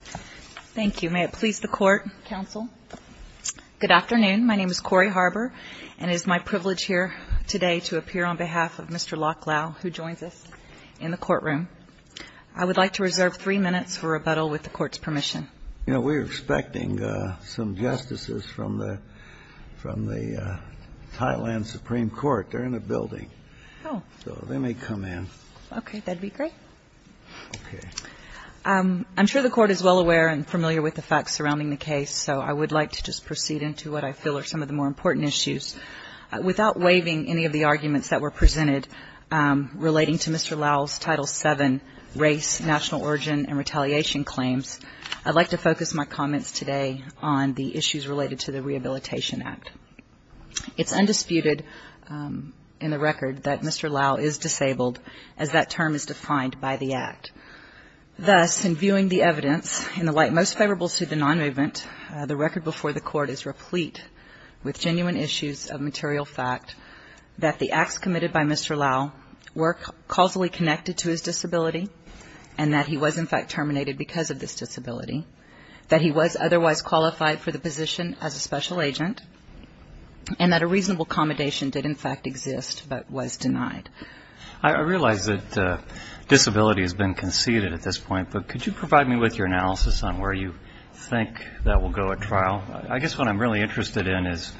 Thank you. May it please the Court, Counsel. Good afternoon. My name is Cori Harber and it is my privilege here today to appear on behalf of Mr. Lok Lau, who joins us in the courtroom. I would like to reserve three minutes for rebuttal with the Court's permission. We are expecting some justices from the Thailand Supreme Court. They're in a building. Oh. So they may come in. Okay. That would be great. Okay. I'm sure the Court is well aware and familiar with the facts surrounding the case, so I would like to just proceed into what I feel are some of the more important issues. Without waiving any of the arguments that were presented relating to Mr. Lau's Title VII race, national origin, and retaliation claims, I'd like to focus my comments today on the issues related to the Rehabilitation Act. It's undisputed in the record that Mr. Lau is disabled, as that term is defined by the Thus, in viewing the evidence, in the light most favorable to the non-movement, the record before the Court is replete with genuine issues of material fact that the acts committed by Mr. Lau were causally connected to his disability and that he was, in fact, terminated because of this disability, that he was otherwise qualified for the position as a special agent, and that a reasonable accommodation did, in fact, exist but was denied. I realize that disability has been conceded at this point, but could you provide me with your analysis on where you think that will go at trial? I guess what I'm really interested in is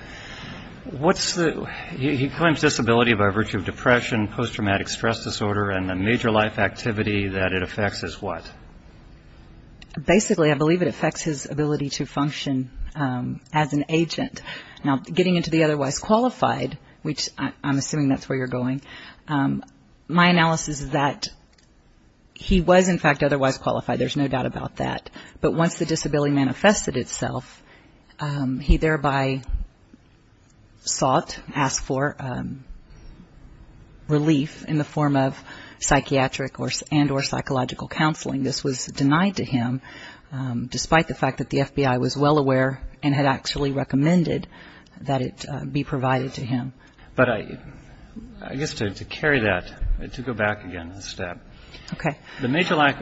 what's the, he claims disability by virtue of depression, post-traumatic stress disorder, and a major life activity that it affects is what? Basically, I believe it affects his ability to function as an agent. Now, getting into the otherwise qualified, which I'm assuming that's where you're going, my analysis is that he was, in fact, otherwise qualified. There's no doubt about that. But once the disability manifested itself, he thereby sought, asked for relief in the form of psychiatric and or psychological counseling. This was denied to him, despite the fact that the FBI was well aware and had actually recommended that it be provided to him. But I guess to carry that, to go back again a step, the major lack,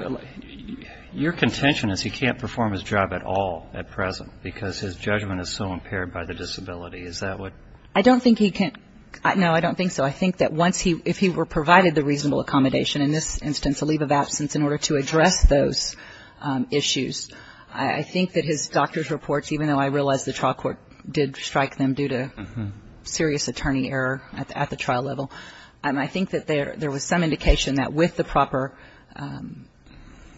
your contention is he can't perform his job at all at present because his judgment is so impaired by the disability. Is that what? I don't think he can't. No, I don't think so. I think that once he, if he were provided the reasonable accommodation, in this instance, a leave of absence in order to address those issues, I think that his doctor's reports, even though I realize the trial court did strike them due to serious attorney error at the trial level, I think that there was some indication that with the proper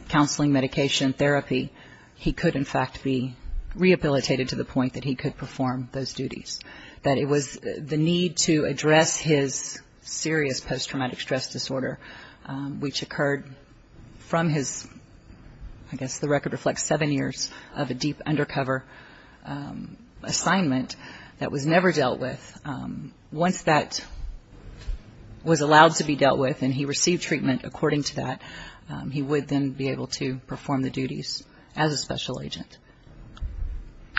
counseling, medication, therapy, he could, in fact, be rehabilitated to the point that he could perform those duties. That it was the need to address his serious post-traumatic stress disorder, which occurred from his, I guess the record reflects seven years of a deep undercover assignment that was never dealt with. Once that was allowed to be dealt with and he received treatment according to that, he would then be able to perform the duties as a special agent.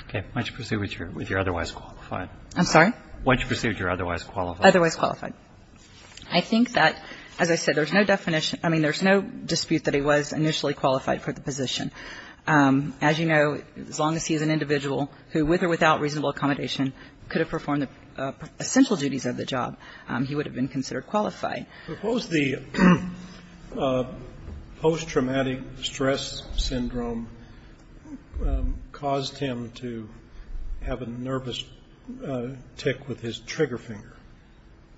Okay. Why don't you proceed with your otherwise qualified? I'm sorry? Why don't you proceed with your otherwise qualified? Otherwise qualified. I think that, as I said, there's no definition, I mean, there's no dispute that he was initially qualified for the position. As you know, as long as he is an individual who, with or without reasonable accommodation, could have performed the essential duties of the job, he would have been considered qualified. Suppose the post-traumatic stress syndrome caused him to have a nervous tick with his trigger finger.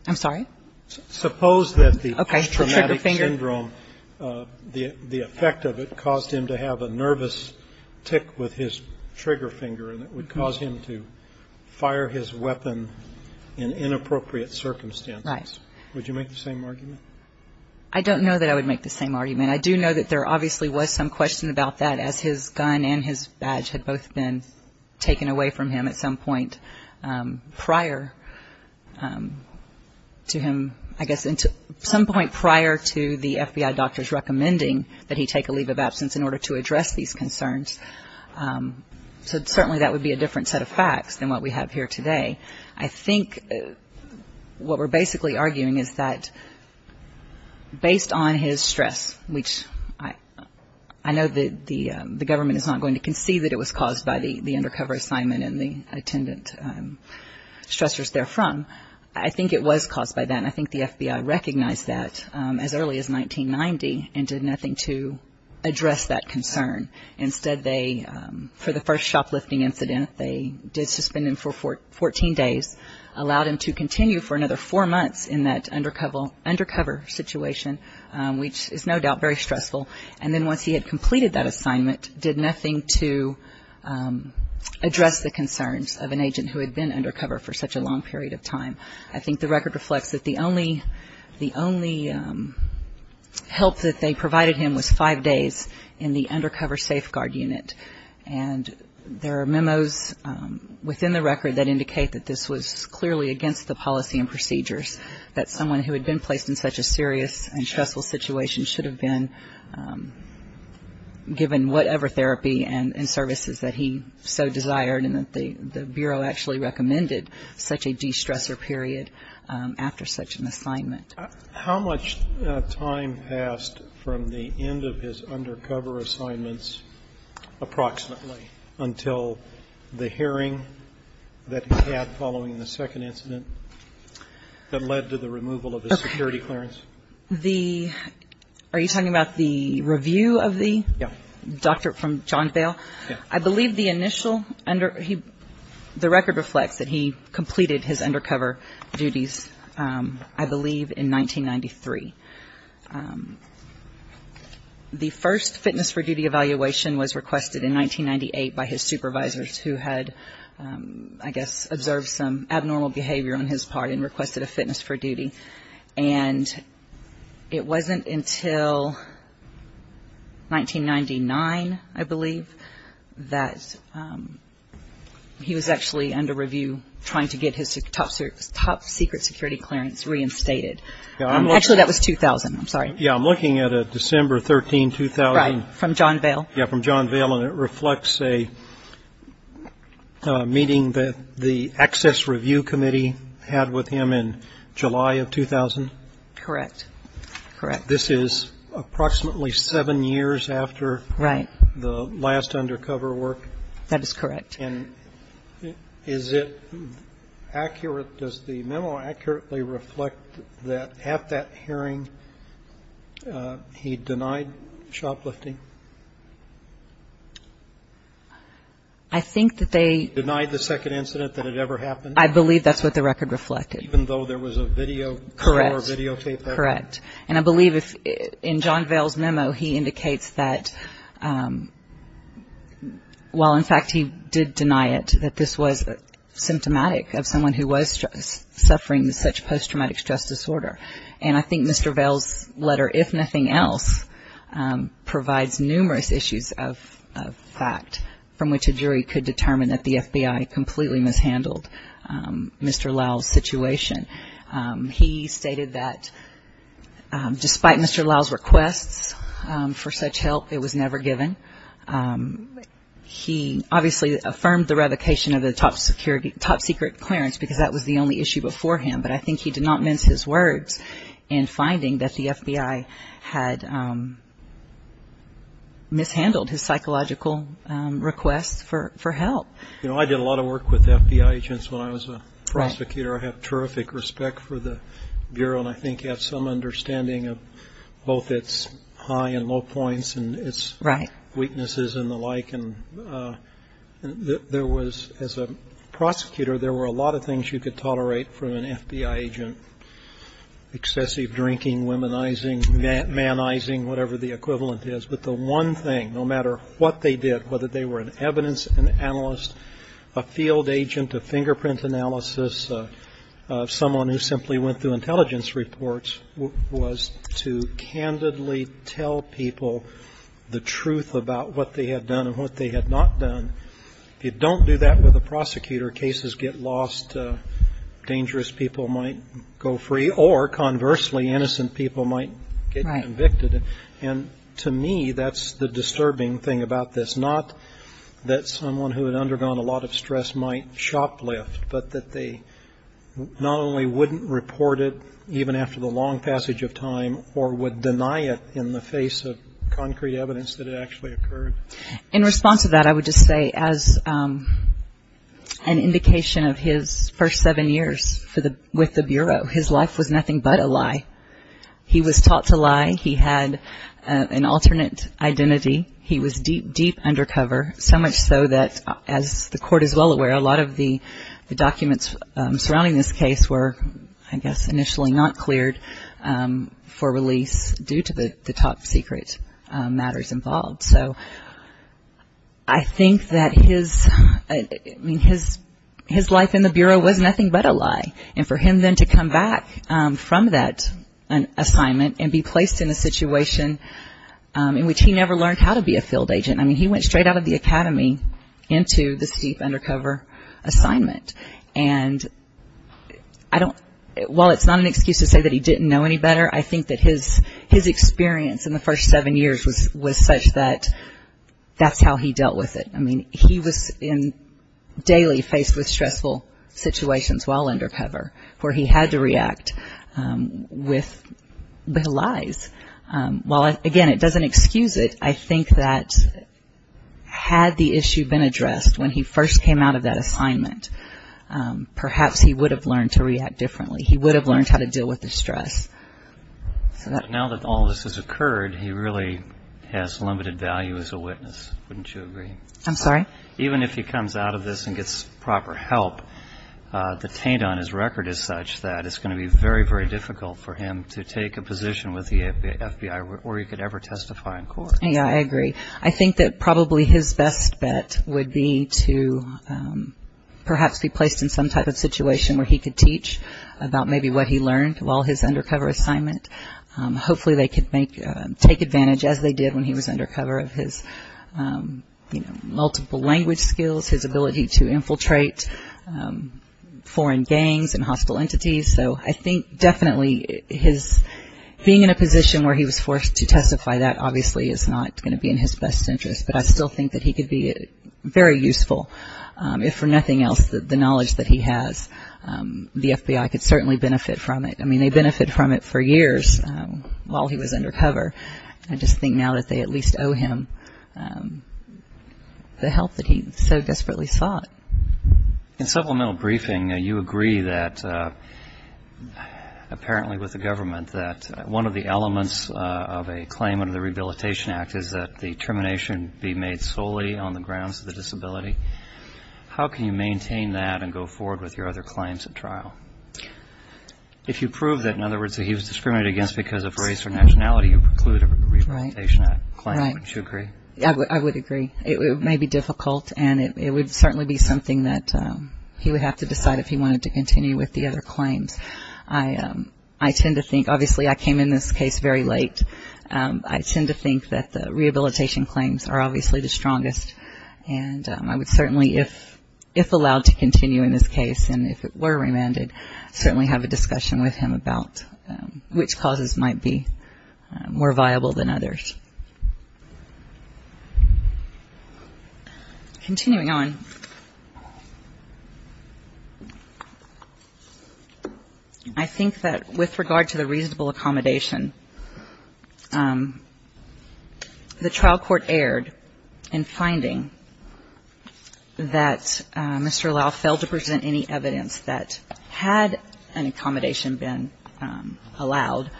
I'm sorry? Suppose that the post-traumatic syndrome, the effect of it caused him to have a nervous tick with his trigger finger and it would cause him to fire his weapon in inappropriate circumstances. Right. Would you make the same argument? I don't know that I would make the same argument. I do know that there obviously was some question about that, as his gun and his badge had both been taken away from him at some point prior to him, I guess, some point prior to the FBI doctors recommending that he take a leave of absence in order to address these concerns. So certainly that would be a different set of facts than what we have here today. I think what we're basically arguing is that based on his stress, which I know that the government is not going to concede that it was caused by the undercover assignment and the attendant stressors therefrom, I think it was caused by that and I think the FBI recognized that as early as 1990 and did nothing to address that concern. Instead, they, for the first shoplifting incident, they did suspend him for 14 days, allowed him to continue for another four months in that undercover situation, which is no doubt very stressful. And then once he had completed that assignment, did nothing to address the concerns of an agent who had been undercover for such a long period of time. I think the record reflects that the only help that they provided him was five days in the undercover safeguard unit. And there are memos within the record that indicate that this was clearly against the policy and procedures, that someone who had been placed in such a serious and stressful situation should have been given whatever therapy and services that he so desired and that the Bureau actually recommended such a de-stressor period after such an assignment. How much time passed from the end of his undercover assignments approximately until the hearing that he had following the second incident that led to the removal of his security clearance? The, are you talking about the review of the doctor from John Vale? I believe the initial, the record reflects that he completed his undercover duties, I believe, in 1993. The first fitness for duty evaluation was requested in 1998 by his supervisors who had, I guess, observed some abnormal behavior on his part and requested a fitness for duty. And it wasn't until 1999, I believe, that he was actually under review trying to get his top secret security clearance reinstated. Actually, that was 2000, I'm sorry. Yeah, I'm looking at a December 13, 2000. Right, from John Vale. Yeah, from John Vale, and it reflects a meeting that the Access Review Committee had with him in July of 2000? Correct. Correct. This is approximately seven years after the last undercover work? That is correct. And is it accurate, does the memo accurately reflect that at that hearing he denied shoplifting? I think that they Denied the second incident that had ever happened? I believe that's what the record reflected. Even though there was a video? Correct. A video tape of it? Correct. And I believe in John Vale's memo, he indicates that, well, in fact, he did deny it, that this was symptomatic of someone who was suffering such post-traumatic stress disorder. And I think Mr. Vale's letter, if nothing else, provides numerous issues of fact from which a jury could determine that the FBI completely mishandled Mr. Lyle's situation. He stated that despite Mr. Lyle's requests for such help, it was never given. He obviously affirmed the revocation of the top-secret clearance because that was the only issue before him, but I think he did not mince his words in finding that the FBI had mishandled his psychological requests for help. You know, I did a lot of work with FBI agents when I was a prosecutor. Right. I have terrific respect for the Bureau, and I think you have some understanding of both its high and low points and its weaknesses and the like. Right. And there was, as a prosecutor, there were a lot of things you could tolerate from an FBI agent, whether they were manizing, whatever the equivalent is. But the one thing, no matter what they did, whether they were an evidence analyst, a field agent, a fingerprint analysis, someone who simply went through intelligence reports, was to candidly tell people the truth about what they had done and what they had not done. If you don't do that with a prosecutor, cases get lost, dangerous people might go free, or, conversely, innocent people might get convicted. Right. And to me, that's the disturbing thing about this. Not that someone who had undergone a lot of stress might shoplift, but that they not only wouldn't report it, even after the long passage of time, or would deny it in the face of concrete evidence that it actually occurred. In response to that, I would just say, as an indication of his first seven years with the Bureau, his life was nothing but a lie. He was taught to lie. He had an alternate identity. He was deep, deep undercover, so much so that, as the Court is well aware, a lot of the documents surrounding this case were, I guess, initially not cleared for release due to the top-secret matters involved. So I think that his, I mean, his life in the Bureau was nothing but a lie. And for him then to come back from that assignment and be placed in a situation in which he never learned how to be a field agent, I mean, he went straight out of the Academy into the steep undercover assignment. And I don't, while it's not an excuse to say that he didn't know any better, I think that his experience in the first seven years was such that that's how he dealt with it. I mean, he was daily faced with stressful situations while undercover, where he had to react with the lies. While, again, it doesn't excuse it, I think that had the issue been addressed when he first came out of that assignment, perhaps he would have learned to react differently. He would have learned how to deal with the stress. So now that all this has occurred, he really has limited value as a witness. Wouldn't you agree? I'm sorry? Even if he comes out of this and gets proper help, the taint on his record is such that it's going to be very, very difficult for him to take a position with the FBI or he could ever testify in court. Yeah, I agree. I think that probably his best bet would be to perhaps be placed in some type of situation where he could teach about maybe what he learned while his undercover assignment. Hopefully they could take advantage, as they did when he was undercover, of his multiple language skills, his ability to infiltrate foreign gangs and hostile entities. So I think definitely his being in a position where he was forced to testify, that obviously is not going to be in his best interest. But I still think that he could be very useful. If for nothing else, the knowledge that he has, the FBI could certainly benefit from it. I mean, they benefited from it for years while he was undercover. I just think now that they at least owe him the help that he so desperately sought. In supplemental briefing, you agree that apparently with the government that one of the elements of a Rehabilitation Act is that the termination be made solely on the grounds of the disability. How can you maintain that and go forward with your other claims at trial? If you prove that, in other words, that he was discriminated against because of race or nationality, you preclude a Rehabilitation Act claim, wouldn't you agree? I would agree. It may be difficult and it would certainly be something that he would have to decide if he wanted to continue with the other claims. I tend to think, obviously I came in this case very late. I tend to think that the rehabilitation claims are obviously the strongest. And I would certainly, if allowed to continue in this case and if it were remanded, certainly have a discussion with him about which causes might be more viable than others. Continuing on, I think that with regard to the reasonable accommodation, the trial court erred in finding that Mr. Lau failed to present any evidence that had an accommodation been allowed,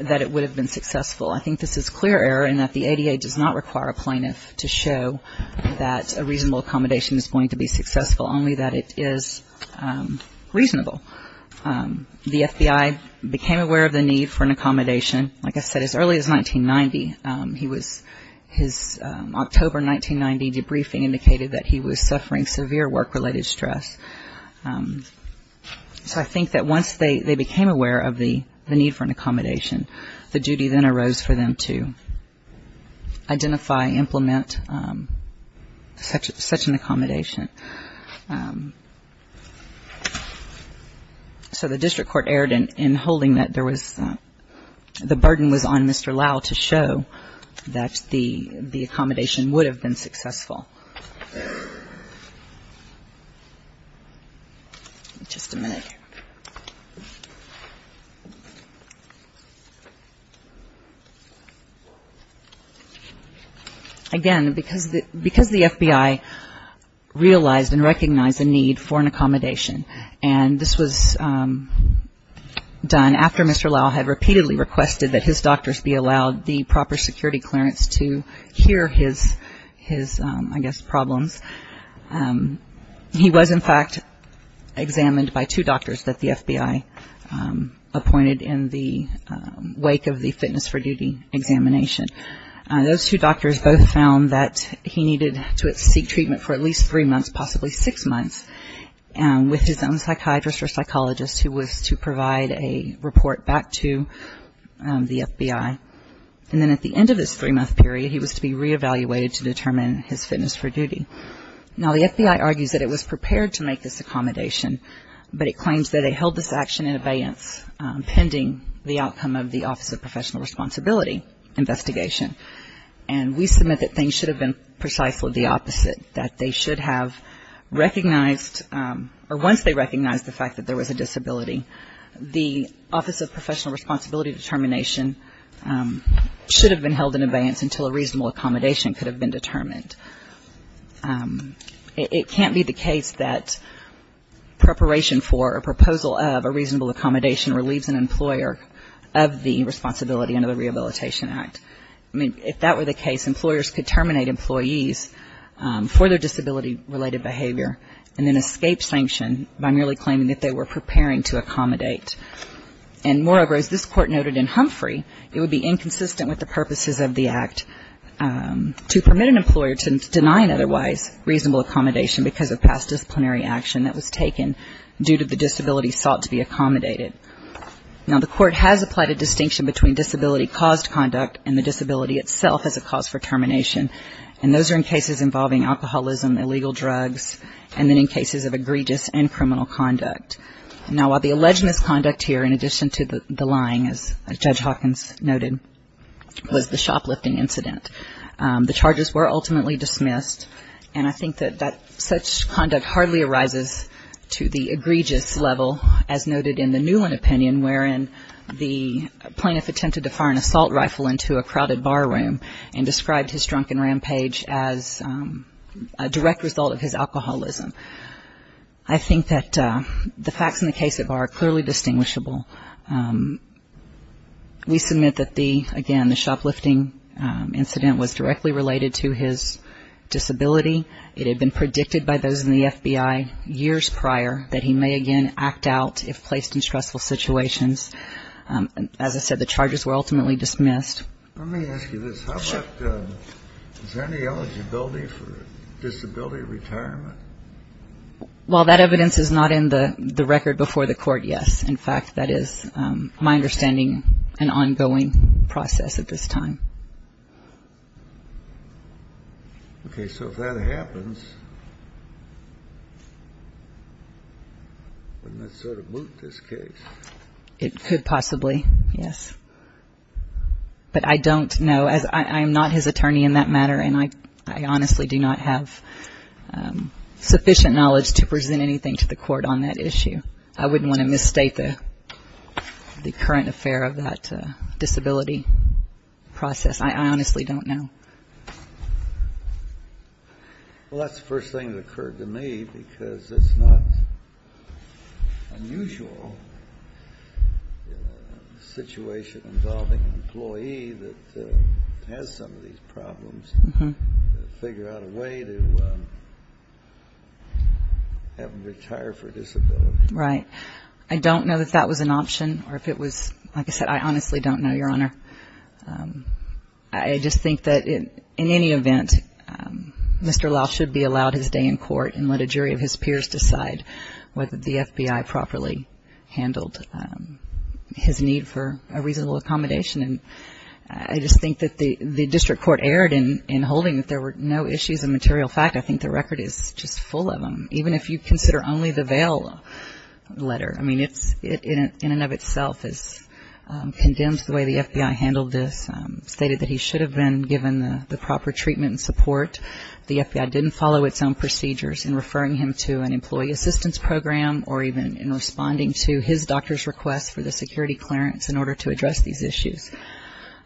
that it would have been successful. I think this is clear error in that the ADA does not require a plaintiff to show that a reasonable accommodation is going to be successful, only that it is reasonable. The FBI became aware of the need for an accommodation, like I said, as early as 1990. His October 1990 debriefing indicated that he was suffering severe work-related stress. So I think that once they became aware of the need for an accommodation, the duty then arose for them to identify, implement such an accommodation. So the district court erred in holding that there was the burden was on Mr. Lau to show that the accommodation would have been successful. Just a minute. Again, because the FBI realized and recognized the need for an accommodation, and this was done after Mr. Lau had repeatedly requested that his doctors be allowed the proper security clearance to hear his, I guess, problems. He was, in fact, examined by two doctors that the FBI appointed in the wake of the Fitness for Duty examination. Those two doctors both found that he needed to seek treatment for at least three months, possibly six months, with his own psychiatrist or psychologist who was to provide a report back to the FBI. And then at the end of this three-month period, he was to be reevaluated to determine his Fitness for Duty. Now, the FBI argues that it was prepared to make this accommodation, but it claims that it held this action in abeyance pending the outcome of the Office of Professional Responsibility investigation. And we submit that things should have been precisely the opposite, that they should have recognized, or once they recognized the fact that there was a disability, the Office of Professional Responsibility determination should have been held in abeyance until a reasonable accommodation could have been determined. It can't be the case that preparation for a proposal of a reasonable accommodation relieves an employer of the responsibility under the Rehabilitation Act. I mean, if that were the case, employers could terminate employees for their disability-related behavior, and then escape sanction by merely claiming that they were preparing to accommodate. And moreover, as this Court noted in Humphrey, it would be inconsistent with the purposes of the Act to permit an employer to deny an otherwise reasonable accommodation because of past disciplinary action that was taken due to the disability sought to be accommodated. Now, the Court has applied a distinction between disability-caused conduct and the disability itself as a cause for termination. And those are in cases involving alcoholism, illegal drugs, and then in cases of egregious and criminal conduct. Now, while the alleged misconduct here, in addition to the lying, as Judge Hawkins noted, was the shoplifting incident, the charges were ultimately dismissed. And I think that such conduct hardly arises to the egregious level, as noted in the Newland opinion wherein the plaintiff attempted to fire an assault rifle into a crowded bar room and described his drunken rampage as a direct result of his alcoholism. I think that the facts in the case are clearly distinguishable. We submit that the, again, the shoplifting incident was directly related to his disability. It had been predicted by those in the FBI years prior that he may again act out if placed in stressful situations. As I said, the charges were ultimately dismissed. Let me ask you this. Sure. Is there any eligibility for disability retirement? Well, that evidence is not in the record before the Court, yes. In fact, that is my understanding an ongoing process at this time. Okay. So if that happens, wouldn't that sort of boot this case? It could possibly, yes. But I don't know. I'm not his attorney in that matter, and I honestly do not have sufficient knowledge to present anything to the Court on that issue. I wouldn't want to misstate the current affair of that disability process. I honestly don't know. Well, that's the first thing that occurred to me, because it's not unusual in a situation involving an employee that has some of these problems to figure out a way to have him retire for disability. Right. I don't know if that was an option or if it was, like I said, I honestly don't know, Your Honor. I just think that in any event, Mr. Law should be allowed his day in court and let a jury of his peers decide whether the FBI properly handled his need for a reasonable accommodation. And I just think that the district court erred in holding that there were no issues of material fact. I think the record is just full of them, even if you consider only the bail letter. I mean, it in and of itself condemns the way the FBI handled this, stated that he should have been given the proper treatment and support. The FBI didn't follow its own procedures in referring him to an employee assistance program or even in responding to his doctor's request for the security clearance in order to address these issues.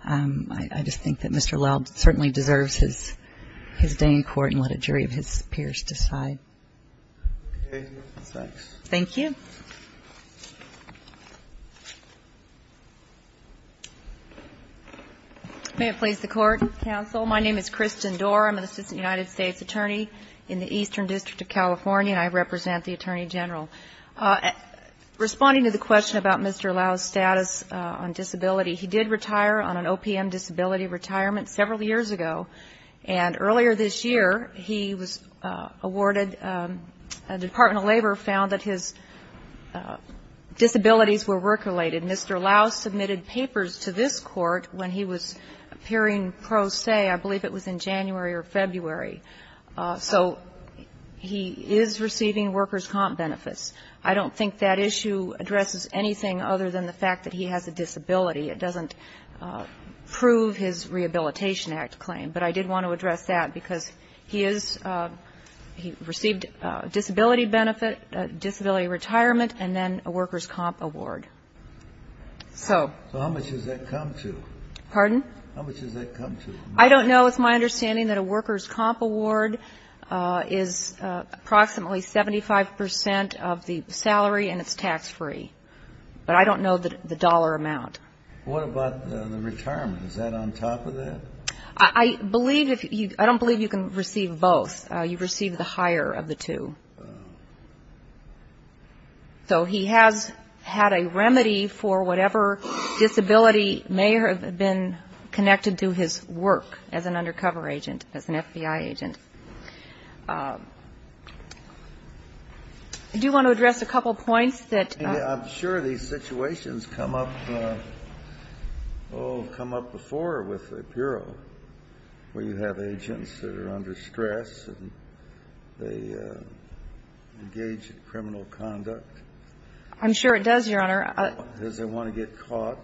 I just think that Mr. Law certainly deserves his day in court and let a jury of his peers decide. Okay. Thanks. Thank you. May it please the Court, Counsel. My name is Kristen Dorr. I'm an assistant United States attorney in the Eastern District of California, and I represent the Attorney General. Responding to the question about Mr. Law's status on disability, he did retire on an OPM disability retirement several years ago, and earlier this year he was awarded a Department of Labor found that his disabilities were work-related. Mr. Law submitted papers to this Court when he was appearing pro se. I believe it was in January or February. So he is receiving workers' comp benefits. I don't think that issue addresses anything other than the fact that he has a disability. It doesn't prove his Rehabilitation Act claim, but I did want to address that because he is he received disability benefit, disability retirement, and then a workers' comp award. So. So how much does that come to? Pardon? How much does that come to? I don't know. It's my understanding that a workers' comp award is approximately 75 percent of the salary and it's tax-free. But I don't know the dollar amount. What about the retirement? Is that on top of that? I believe if you I don't believe you can receive both. You receive the higher of the two. So he has had a remedy for whatever disability may have been connected to his work as an undercover agent, as an FBI agent. I do want to address a couple points that. I'm sure these situations come up, oh, come up before with the bureau where you have agents that are under stress and they engage in criminal conduct. I'm sure it does, Your Honor. Does they want to get caught?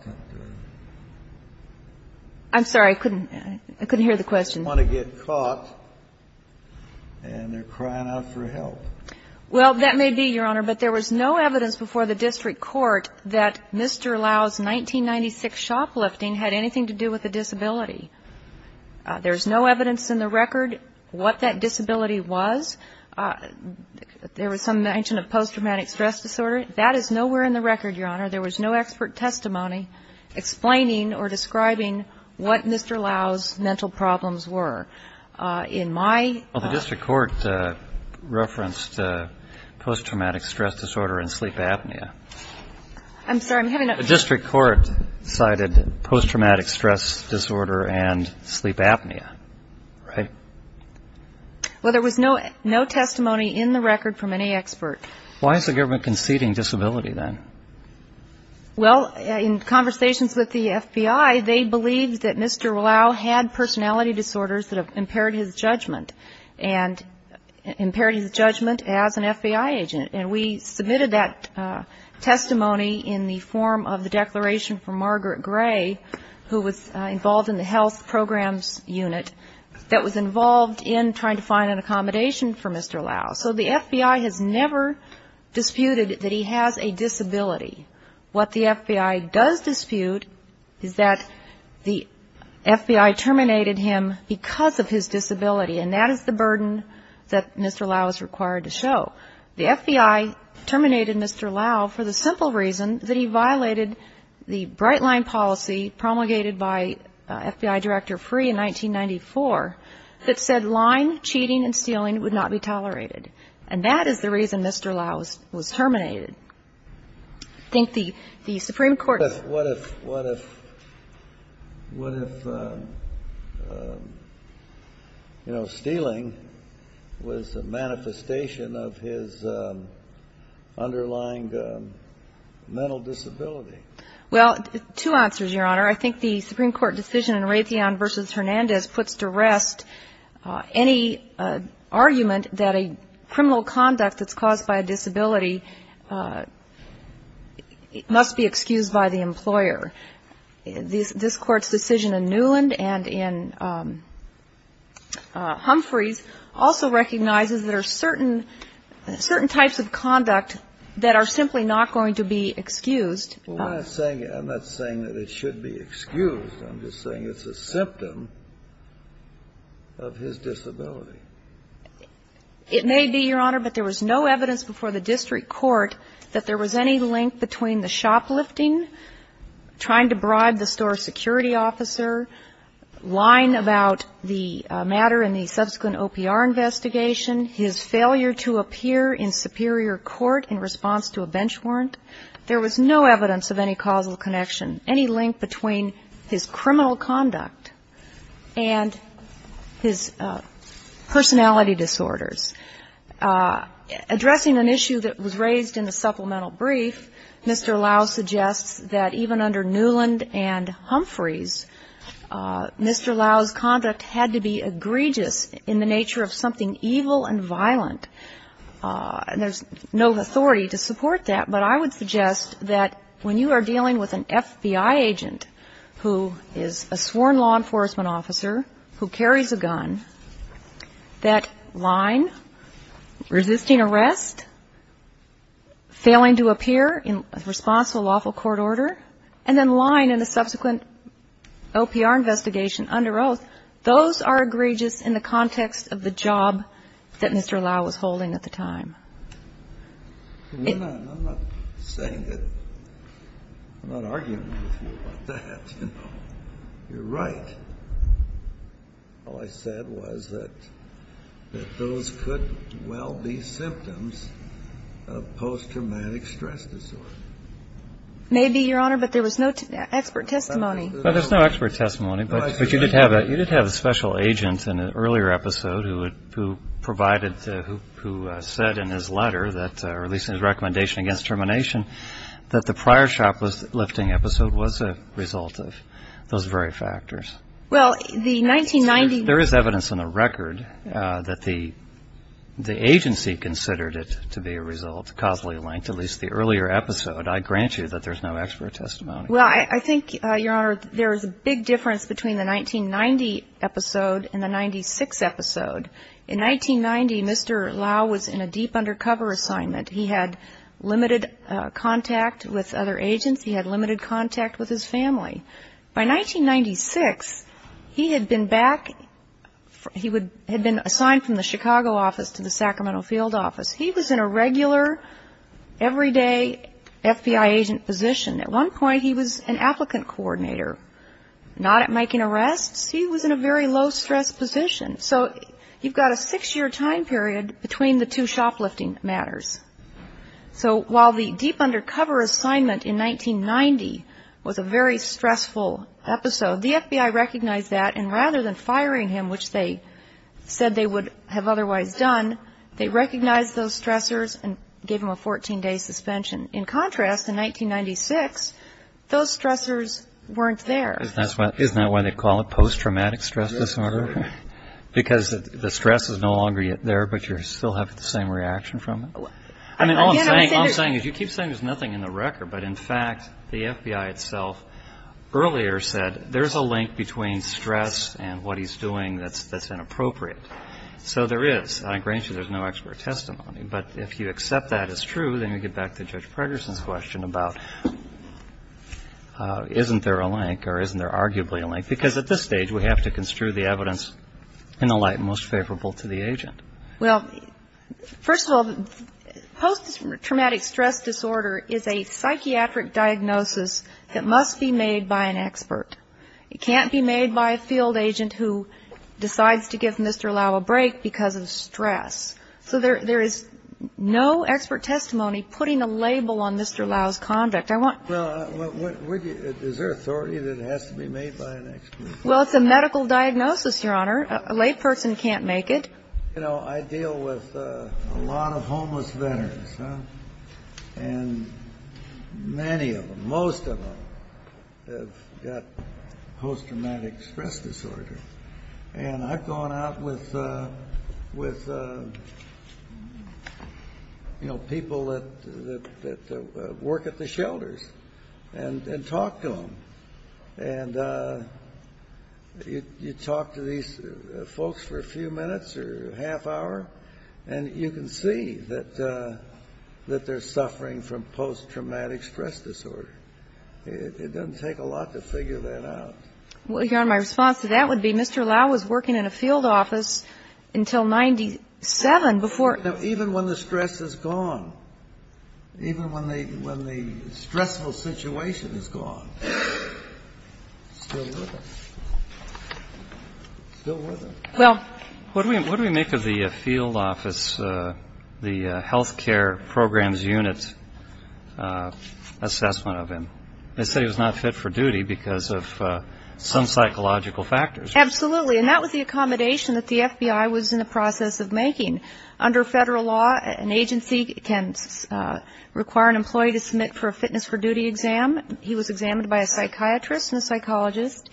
I'm sorry. I couldn't hear the question. Do they want to get caught and they're crying out for help? Well, that may be, Your Honor. But there was no evidence before the district court that Mr. Lau's 1996 shoplifting had anything to do with a disability. There's no evidence in the record what that disability was. There was some mention of post-traumatic stress disorder. That is nowhere in the record, Your Honor. There was no expert testimony explaining or describing what Mr. Lau's mental problems were. In my ---- Well, the district court referenced post-traumatic stress disorder and sleep apnea. I'm sorry, I'm having a ---- The district court cited post-traumatic stress disorder and sleep apnea, right? Well, there was no testimony in the record from any expert. Why is the government conceding disability, then? Well, in conversations with the FBI, they believed that Mr. Lau had personality disorders that have impaired his judgment and impaired his judgment as an FBI agent. And we submitted that testimony in the form of the declaration from Margaret Gray, who was involved in the health programs unit, that was involved in trying to find an accommodation for Mr. Lau. So the FBI has never disputed that he has a disability. What the FBI does dispute is that the FBI terminated him because of his disability, and that is the burden that Mr. Lau is required to show. The FBI terminated Mr. Lau for the simple reason that he violated the bright line policy promulgated by FBI Director Freeh in 1994 that said lying, cheating, and stealing would not be tolerated. And that is the reason Mr. Lau was terminated. I think the Supreme Court ---- What if, what if, what if, what if, you know, stealing was a manifestation of his underlying mental disability? Well, two answers, Your Honor. I think the Supreme Court decision in Raytheon v. Hernandez puts to rest any argument that a criminal conduct that's caused by a disability must be excused by the employer. This Court's decision in Newland and in Humphreys also recognizes there are certain, certain types of conduct that are simply not going to be excused. Well, I'm not saying that it should be excused. I'm just saying it's a symptom of his disability. It may be, Your Honor, but there was no evidence before the district court that there was any link between the shoplifting, trying to bribe the store security officer, lying about the matter in the subsequent OPR investigation, his failure to appear in superior court in response to a bench warrant. There was no evidence of any causal connection, any link between his criminal conduct and his personality disorders. Addressing an issue that was raised in the supplemental brief, Mr. Lau suggests that even under Newland and Humphreys, Mr. Lau's conduct had to be egregious in the nature of something evil and violent. And there's no authority to support that, but I would suggest that when you are dealing with an FBI agent who is a sworn law enforcement officer, who carries a gun, that lying, resisting arrest, failing to appear in response to a lawful court order, and then lying in the subsequent OPR investigation under oath, those are egregious in the context of the job that Mr. Lau was holding at the time. I'm not arguing with you about that. You're right. All I said was that those could well be symptoms of post-traumatic stress disorder. It may be, Your Honor, but there was no expert testimony. Well, there's no expert testimony, but you did have a special agent in an earlier episode who provided, who said in his letter that, or at least in his recommendation against termination, that the prior shoplifting episode was a result of those very factors. Well, the 1990s. There is evidence in the record that the agency considered it to be a result, causally linked, at least the earlier episode. I grant you that there's no expert testimony. Well, I think, Your Honor, there is a big difference between the 1990 episode and the 1996 episode. In 1990, Mr. Lau was in a deep undercover assignment. He had limited contact with other agents. He had limited contact with his family. By 1996, he had been back, he had been assigned from the Chicago office to the Sacramento field office. He was in a regular, everyday FBI agent position. At one point, he was an applicant coordinator. Not at making arrests, he was in a very low-stress position. So you've got a six-year time period between the two shoplifting matters. So while the deep undercover assignment in 1990 was a very stressful episode, the FBI recognized that, and rather than firing him, which they said they would have otherwise done, they recognized those stressors and gave him a 14-day suspension. In contrast, in 1996, those stressors weren't there. Isn't that why they call it post-traumatic stress disorder? Because the stress is no longer yet there, but you're still having the same reaction from it? I mean, all I'm saying is you keep saying there's nothing in the record. But, in fact, the FBI itself earlier said there's a link between stress and what he's doing that's inappropriate. So there is. I grant you there's no expert testimony. But if you accept that as true, then you get back to Judge Pregerson's question about isn't there a link or isn't there arguably a link? Because at this stage, we have to construe the evidence in the light most favorable to the agent. Well, first of all, post-traumatic stress disorder is a psychiatric diagnosis that must be made by an expert. It can't be made by a field agent who decides to give Mr. Lau a break because of stress. So there is no expert testimony putting a label on Mr. Lau's conduct. Well, is there authority that it has to be made by an expert? Well, it's a medical diagnosis, Your Honor. A layperson can't make it. You know, I deal with a lot of homeless veterans, and many of them, most of them, have got post-traumatic stress disorder. And I've gone out with, you know, people that work at the shelters and talked to them. And you talk to these folks for a few minutes or a half hour, and you can see that they're suffering from post-traumatic stress disorder. It doesn't take a lot to figure that out. Well, Your Honor, my response to that would be Mr. Lau was working in a field office until 97 before. Now, even when the stress is gone, even when the stressful situation is gone, it's still worth it. It's still worth it. Well. What do we make of the field office, the health care programs unit assessment of him? They say he was not fit for duty because of some psychological factors. Absolutely. And that was the accommodation that the FBI was in the process of making. Under federal law, an agency can require an employee to submit for a fitness for duty exam. He was examined by a psychiatrist and a psychologist.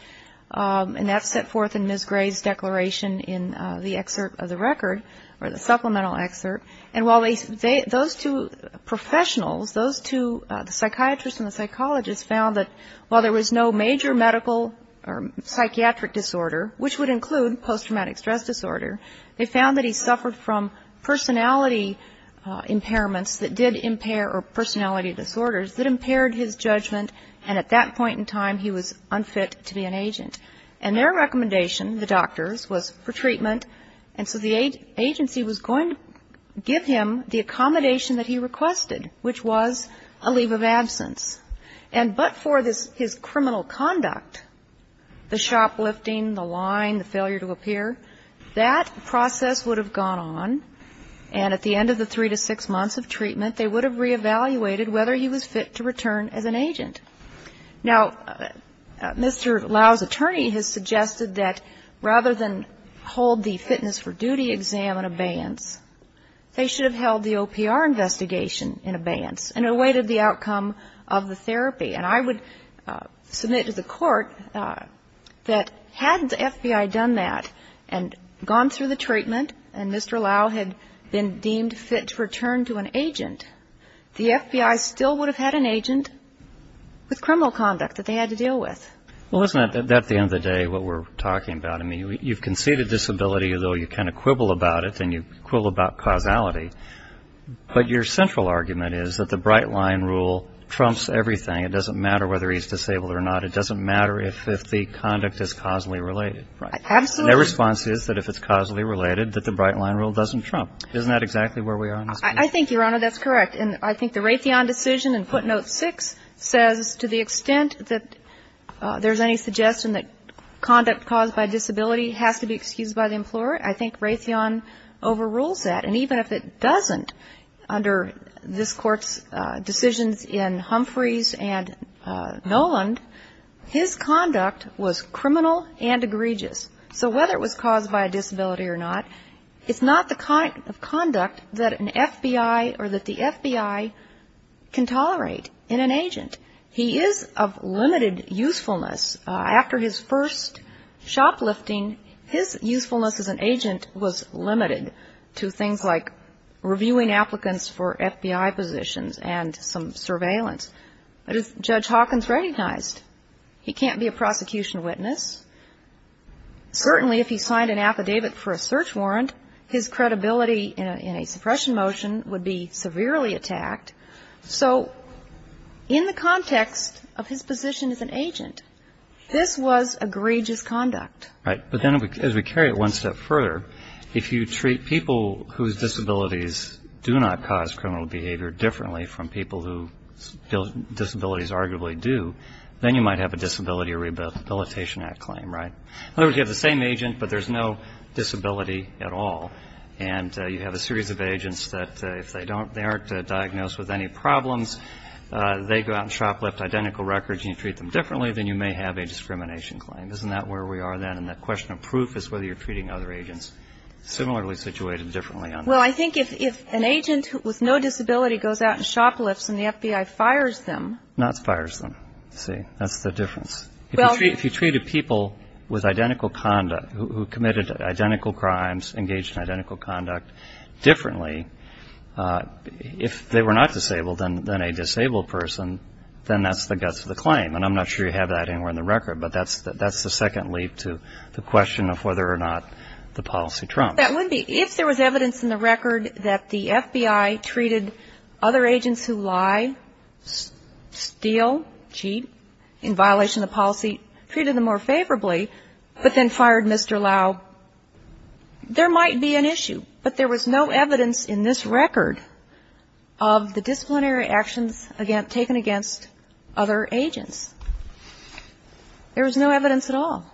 And that's set forth in Ms. Gray's declaration in the excerpt of the record, or the supplemental excerpt. And while those two professionals, those two, the psychiatrist and the psychologist, found that while there was no major medical or psychiatric disorder, which would include post-traumatic stress disorder, they found that he suffered from personality impairments that did impair or personality disorders that impaired his judgment. And at that point in time, he was unfit to be an agent. And so the agency was going to give him the accommodation that he requested, which was a leave of absence. And but for his criminal conduct, the shoplifting, the lying, the failure to appear, that process would have gone on. And at the end of the three to six months of treatment, they would have reevaluated whether he was fit to return as an agent. Now, Mr. Lau's attorney has suggested that rather than hold the fitness for duty exam in abeyance, they should have held the OPR investigation in abeyance and awaited the outcome of the therapy. And I would submit to the court that had the FBI done that and gone through the treatment and Mr. Lau had been deemed fit to return to an agent, the FBI still would have had an agent with criminal conduct that they had to deal with. Well, isn't that at the end of the day what we're talking about? I mean, you've conceded disability, although you kind of quibble about it and you quibble about causality. But your central argument is that the Bright Line rule trumps everything. It doesn't matter whether he's disabled or not. It doesn't matter if the conduct is causally related. Absolutely. And their response is that if it's causally related, that the Bright Line rule doesn't trump. Isn't that exactly where we are in this case? I think, Your Honor, that's correct. And I think the Raytheon decision in footnote 6 says to the extent that there's any suggestion that conduct caused by disability has to be excused by the employer, I think Raytheon overrules that. And even if it doesn't, under this Court's decisions in Humphreys and Noland, his conduct was criminal and egregious. So whether it was caused by a disability or not, it's not the kind of conduct that an FBI or that the FBI can tolerate in an agent. He is of limited usefulness. After his first shoplifting, his usefulness as an agent was limited to things like reviewing applicants for FBI positions and some surveillance. But as Judge Hawkins recognized, he can't be a prosecution witness. Certainly if he signed an affidavit for a search warrant, his credibility in a suppression motion would be severely attacked. So in the context of his position as an agent, this was egregious conduct. Right. But then as we carry it one step further, if you treat people whose disabilities do not cause criminal behavior differently from people whose disabilities arguably do, then you might have a Disability Rehabilitation Act claim, right? In other words, you have the same agent, but there's no disability at all. And you have a series of agents that if they aren't diagnosed with any problems, they go out and shoplift identical records and you treat them differently, then you may have a discrimination claim. Isn't that where we are then? And the question of proof is whether you're treating other agents similarly situated differently. Well, I think if an agent with no disability goes out and shoplifts and the FBI fires them. Not fires them. See, that's the difference. If you treated people with identical conduct, who committed identical crimes, engaged in identical conduct differently, if they were not disabled, then a disabled person, then that's the guts of the claim. And I'm not sure you have that anywhere in the record, but that's the second leap to the question of whether or not the policy trumps. Well, that would be if there was evidence in the record that the FBI treated other agents who lie, steal, cheat, in violation of the policy, treated them more favorably, but then fired Mr. Lau, there might be an issue. But there was no evidence in this record of the disciplinary actions taken against other agents. There was no evidence at all.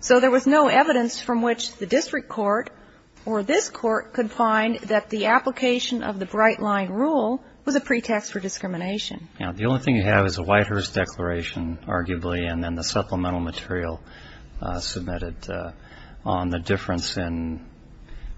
So there was no evidence from which the district court or this court could find that the application of the Bright Line Rule was a pretext for discrimination. Now, the only thing you have is a Whitehurst Declaration, arguably, and then the supplemental material submitted on the difference in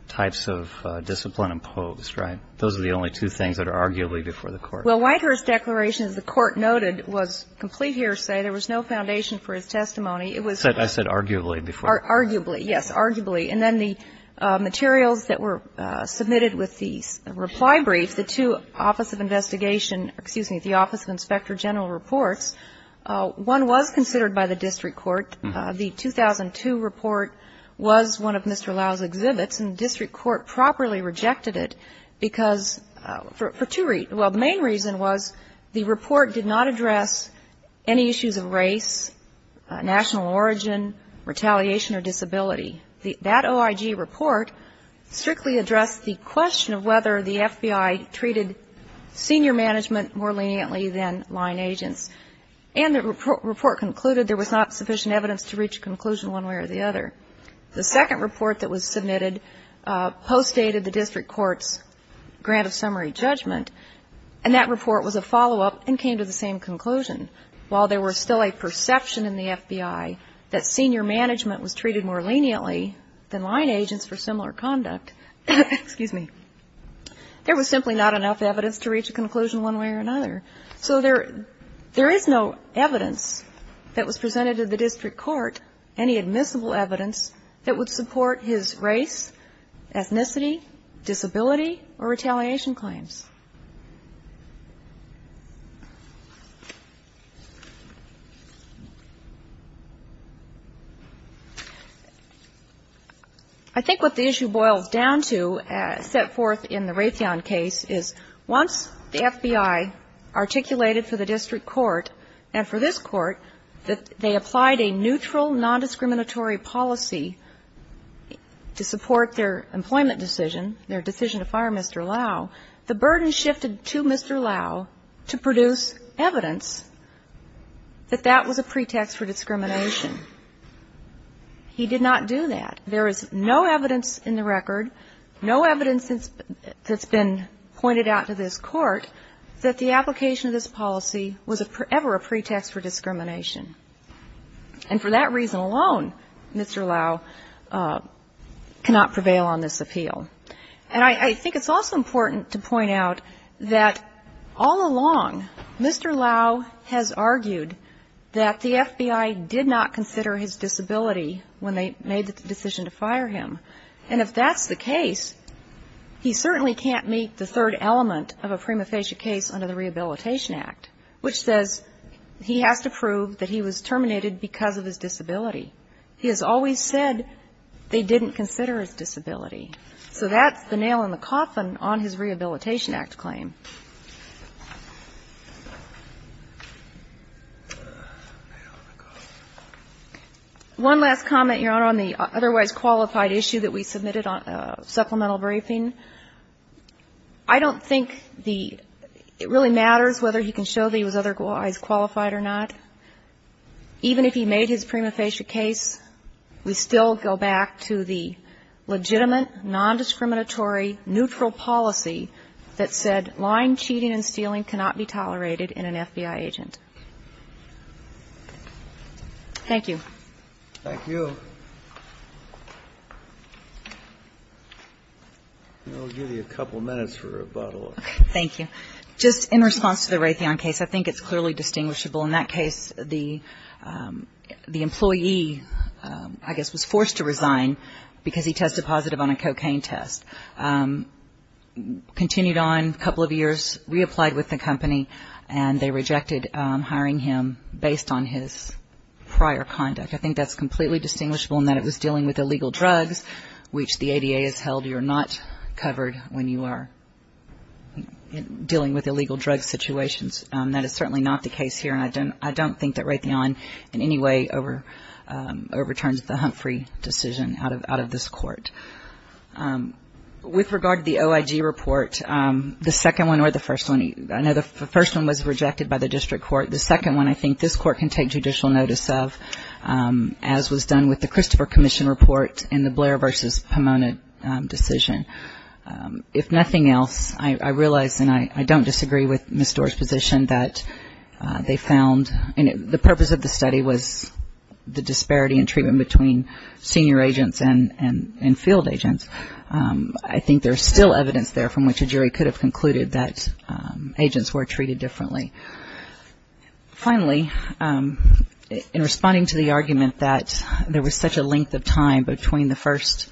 types of discipline imposed, right? Those are the only two things that are arguably before the Court. Well, Whitehurst Declaration, as the Court noted, was complete hearsay. There was no foundation for his testimony. I said arguably before. Arguably. Yes, arguably. And then the materials that were submitted with the reply brief, the two Office of Investigation or, excuse me, the Office of Inspector General reports, one was considered by the district court. The 2002 report was one of Mr. Lau's exhibits, and the district court properly rejected it because for two reasons. Well, the main reason was the report did not address any issues of race, national origin, retaliation or disability. That OIG report strictly addressed the question of whether the FBI treated senior management more leniently than line agents. And the report concluded there was not sufficient evidence to reach a conclusion one way or the other. The second report that was submitted postdated the district court's grant of summary judgment, and that report was a follow-up and came to the same conclusion. While there was still a perception in the FBI that senior management was treated more leniently than line agents for similar conduct, excuse me, there was simply not enough evidence to reach a conclusion one way or another. So there is no evidence that was presented to the district court, any admissible evidence that would support his race, ethnicity, disability or retaliation claims. I think what the issue boils down to set forth in the Raytheon case is once the FBI articulated for the district court and for this court that they applied a neutral, nondiscriminatory policy to support their employment decision, their decision to fire Mr. Lowe, the burden shifted to Mr. Lowe to produce evidence that that was a pretext for discrimination. He did not do that. There is no evidence in the record, no evidence that's been pointed out to this court that the application of this policy was ever a pretext for discrimination. And for that reason alone, Mr. Lowe cannot prevail on this appeal. And I think it's also important to point out that all along, Mr. Lowe has argued that the FBI did not consider his disability when they made the decision to fire him. And if that's the case, he certainly can't meet the third element of a prima facie case under the Rehabilitation Act, which says he has to prove that he was terminated because of his disability. He has always said they didn't consider his disability. So that's the nail in the coffin on his Rehabilitation Act claim. One last comment, Your Honor, on the otherwise qualified issue that we submitted on supplemental briefing. I don't think the ñ it really matters whether he can show that he was otherwise qualified or not. Even if he made his prima facie case, we still go back to the legitimate, non-discriminatory, neutral policy that said lying, cheating and stealing cannot be tolerated in an FBI agent. Thank you. Thank you. I'll give you a couple minutes for rebuttal. Okay. Thank you. Just in response to the Raytheon case, I think it's clearly distinguishable. In that case, the employee, I guess, was forced to resign because he tested positive on a cocaine test, continued on a couple of years, reapplied with the company, and they rejected hiring him based on his prior conduct. I think that's completely distinguishable in that it was dealing with illegal drugs, which the ADA has held you're not covered when you are dealing with illegal drug situations. That is certainly not the case here, and I don't think that Raytheon in any way overturns the Humphrey decision out of this court. With regard to the OIG report, the second one or the first one, I know the first one was rejected by the district court. The second one I think this court can take judicial notice of, as was done with the Christopher Commission report and the Blair v. Pomona decision. If nothing else, I realize, and I don't disagree with Ms. Doar's position, that they found, and the purpose of the study was the disparity in treatment between senior agents and field agents. I think there's still evidence there from which a jury could have concluded that agents were treated differently. Finally, in responding to the argument that there was such a length of time between the first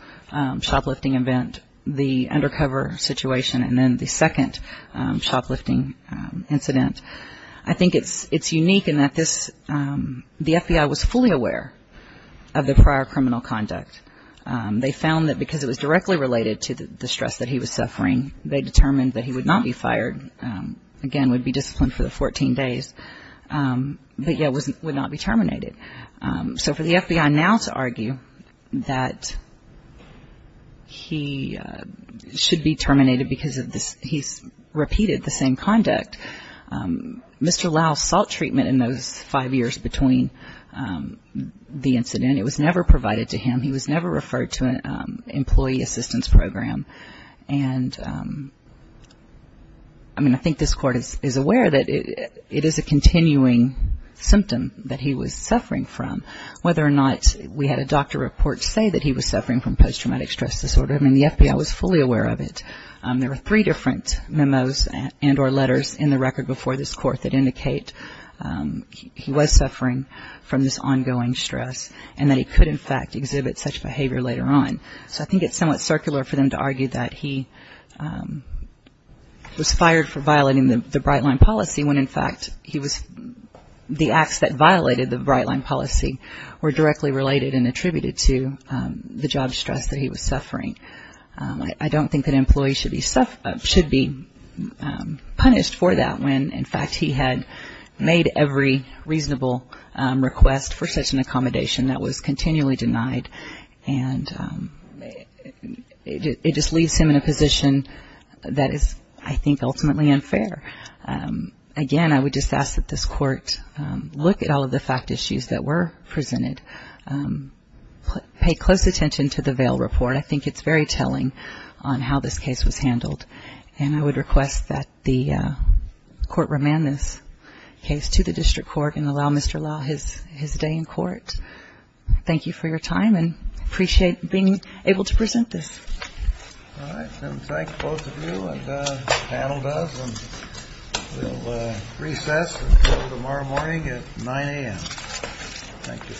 shoplifting event, the undercover situation, and then the second shoplifting incident, I think it's unique in that the FBI was fully aware of the prior criminal conduct. They found that because it was directly related to the stress that he was suffering, they determined that he would not be fired, again, would be disciplined for the 14 days, but yet would not be terminated. So for the FBI now to argue that he should be terminated because he's repeated the same conduct, Mr. Lau's SALT treatment in those five years between the incident, it was never provided to him. He was never referred to an employee assistance program. And I mean, I think this Court is aware that it is a continuing symptom that he was suffering from, whether or not we had a doctor report say that he was suffering from post-traumatic stress disorder. I mean, the FBI was fully aware of it. There were three different memos and or letters in the record before this Court that indicate he was suffering from this ongoing stress and that he could, in fact, exhibit such behavior later on. So I think it's somewhat circular for them to argue that he was fired for violating the bright line policy when, in fact, the acts that violated the bright line policy were directly related and attributed to the job stress that he was suffering. I don't think that employees should be punished for that when, in fact, he had made every reasonable request for such an accommodation that was continually denied. And it just leaves him in a position that is, I think, ultimately unfair. Again, I would just ask that this Court look at all of the fact issues that were presented. Pay close attention to the veil report. I think it's very telling on how this case was handled. And I would request that the Court remand this case to the district court and allow Mr. Law his day in court. Thank you for your time and appreciate being able to present this. And thank both of you and the panel does. Recess tomorrow morning at 9 a.m. Thank you. Thank you.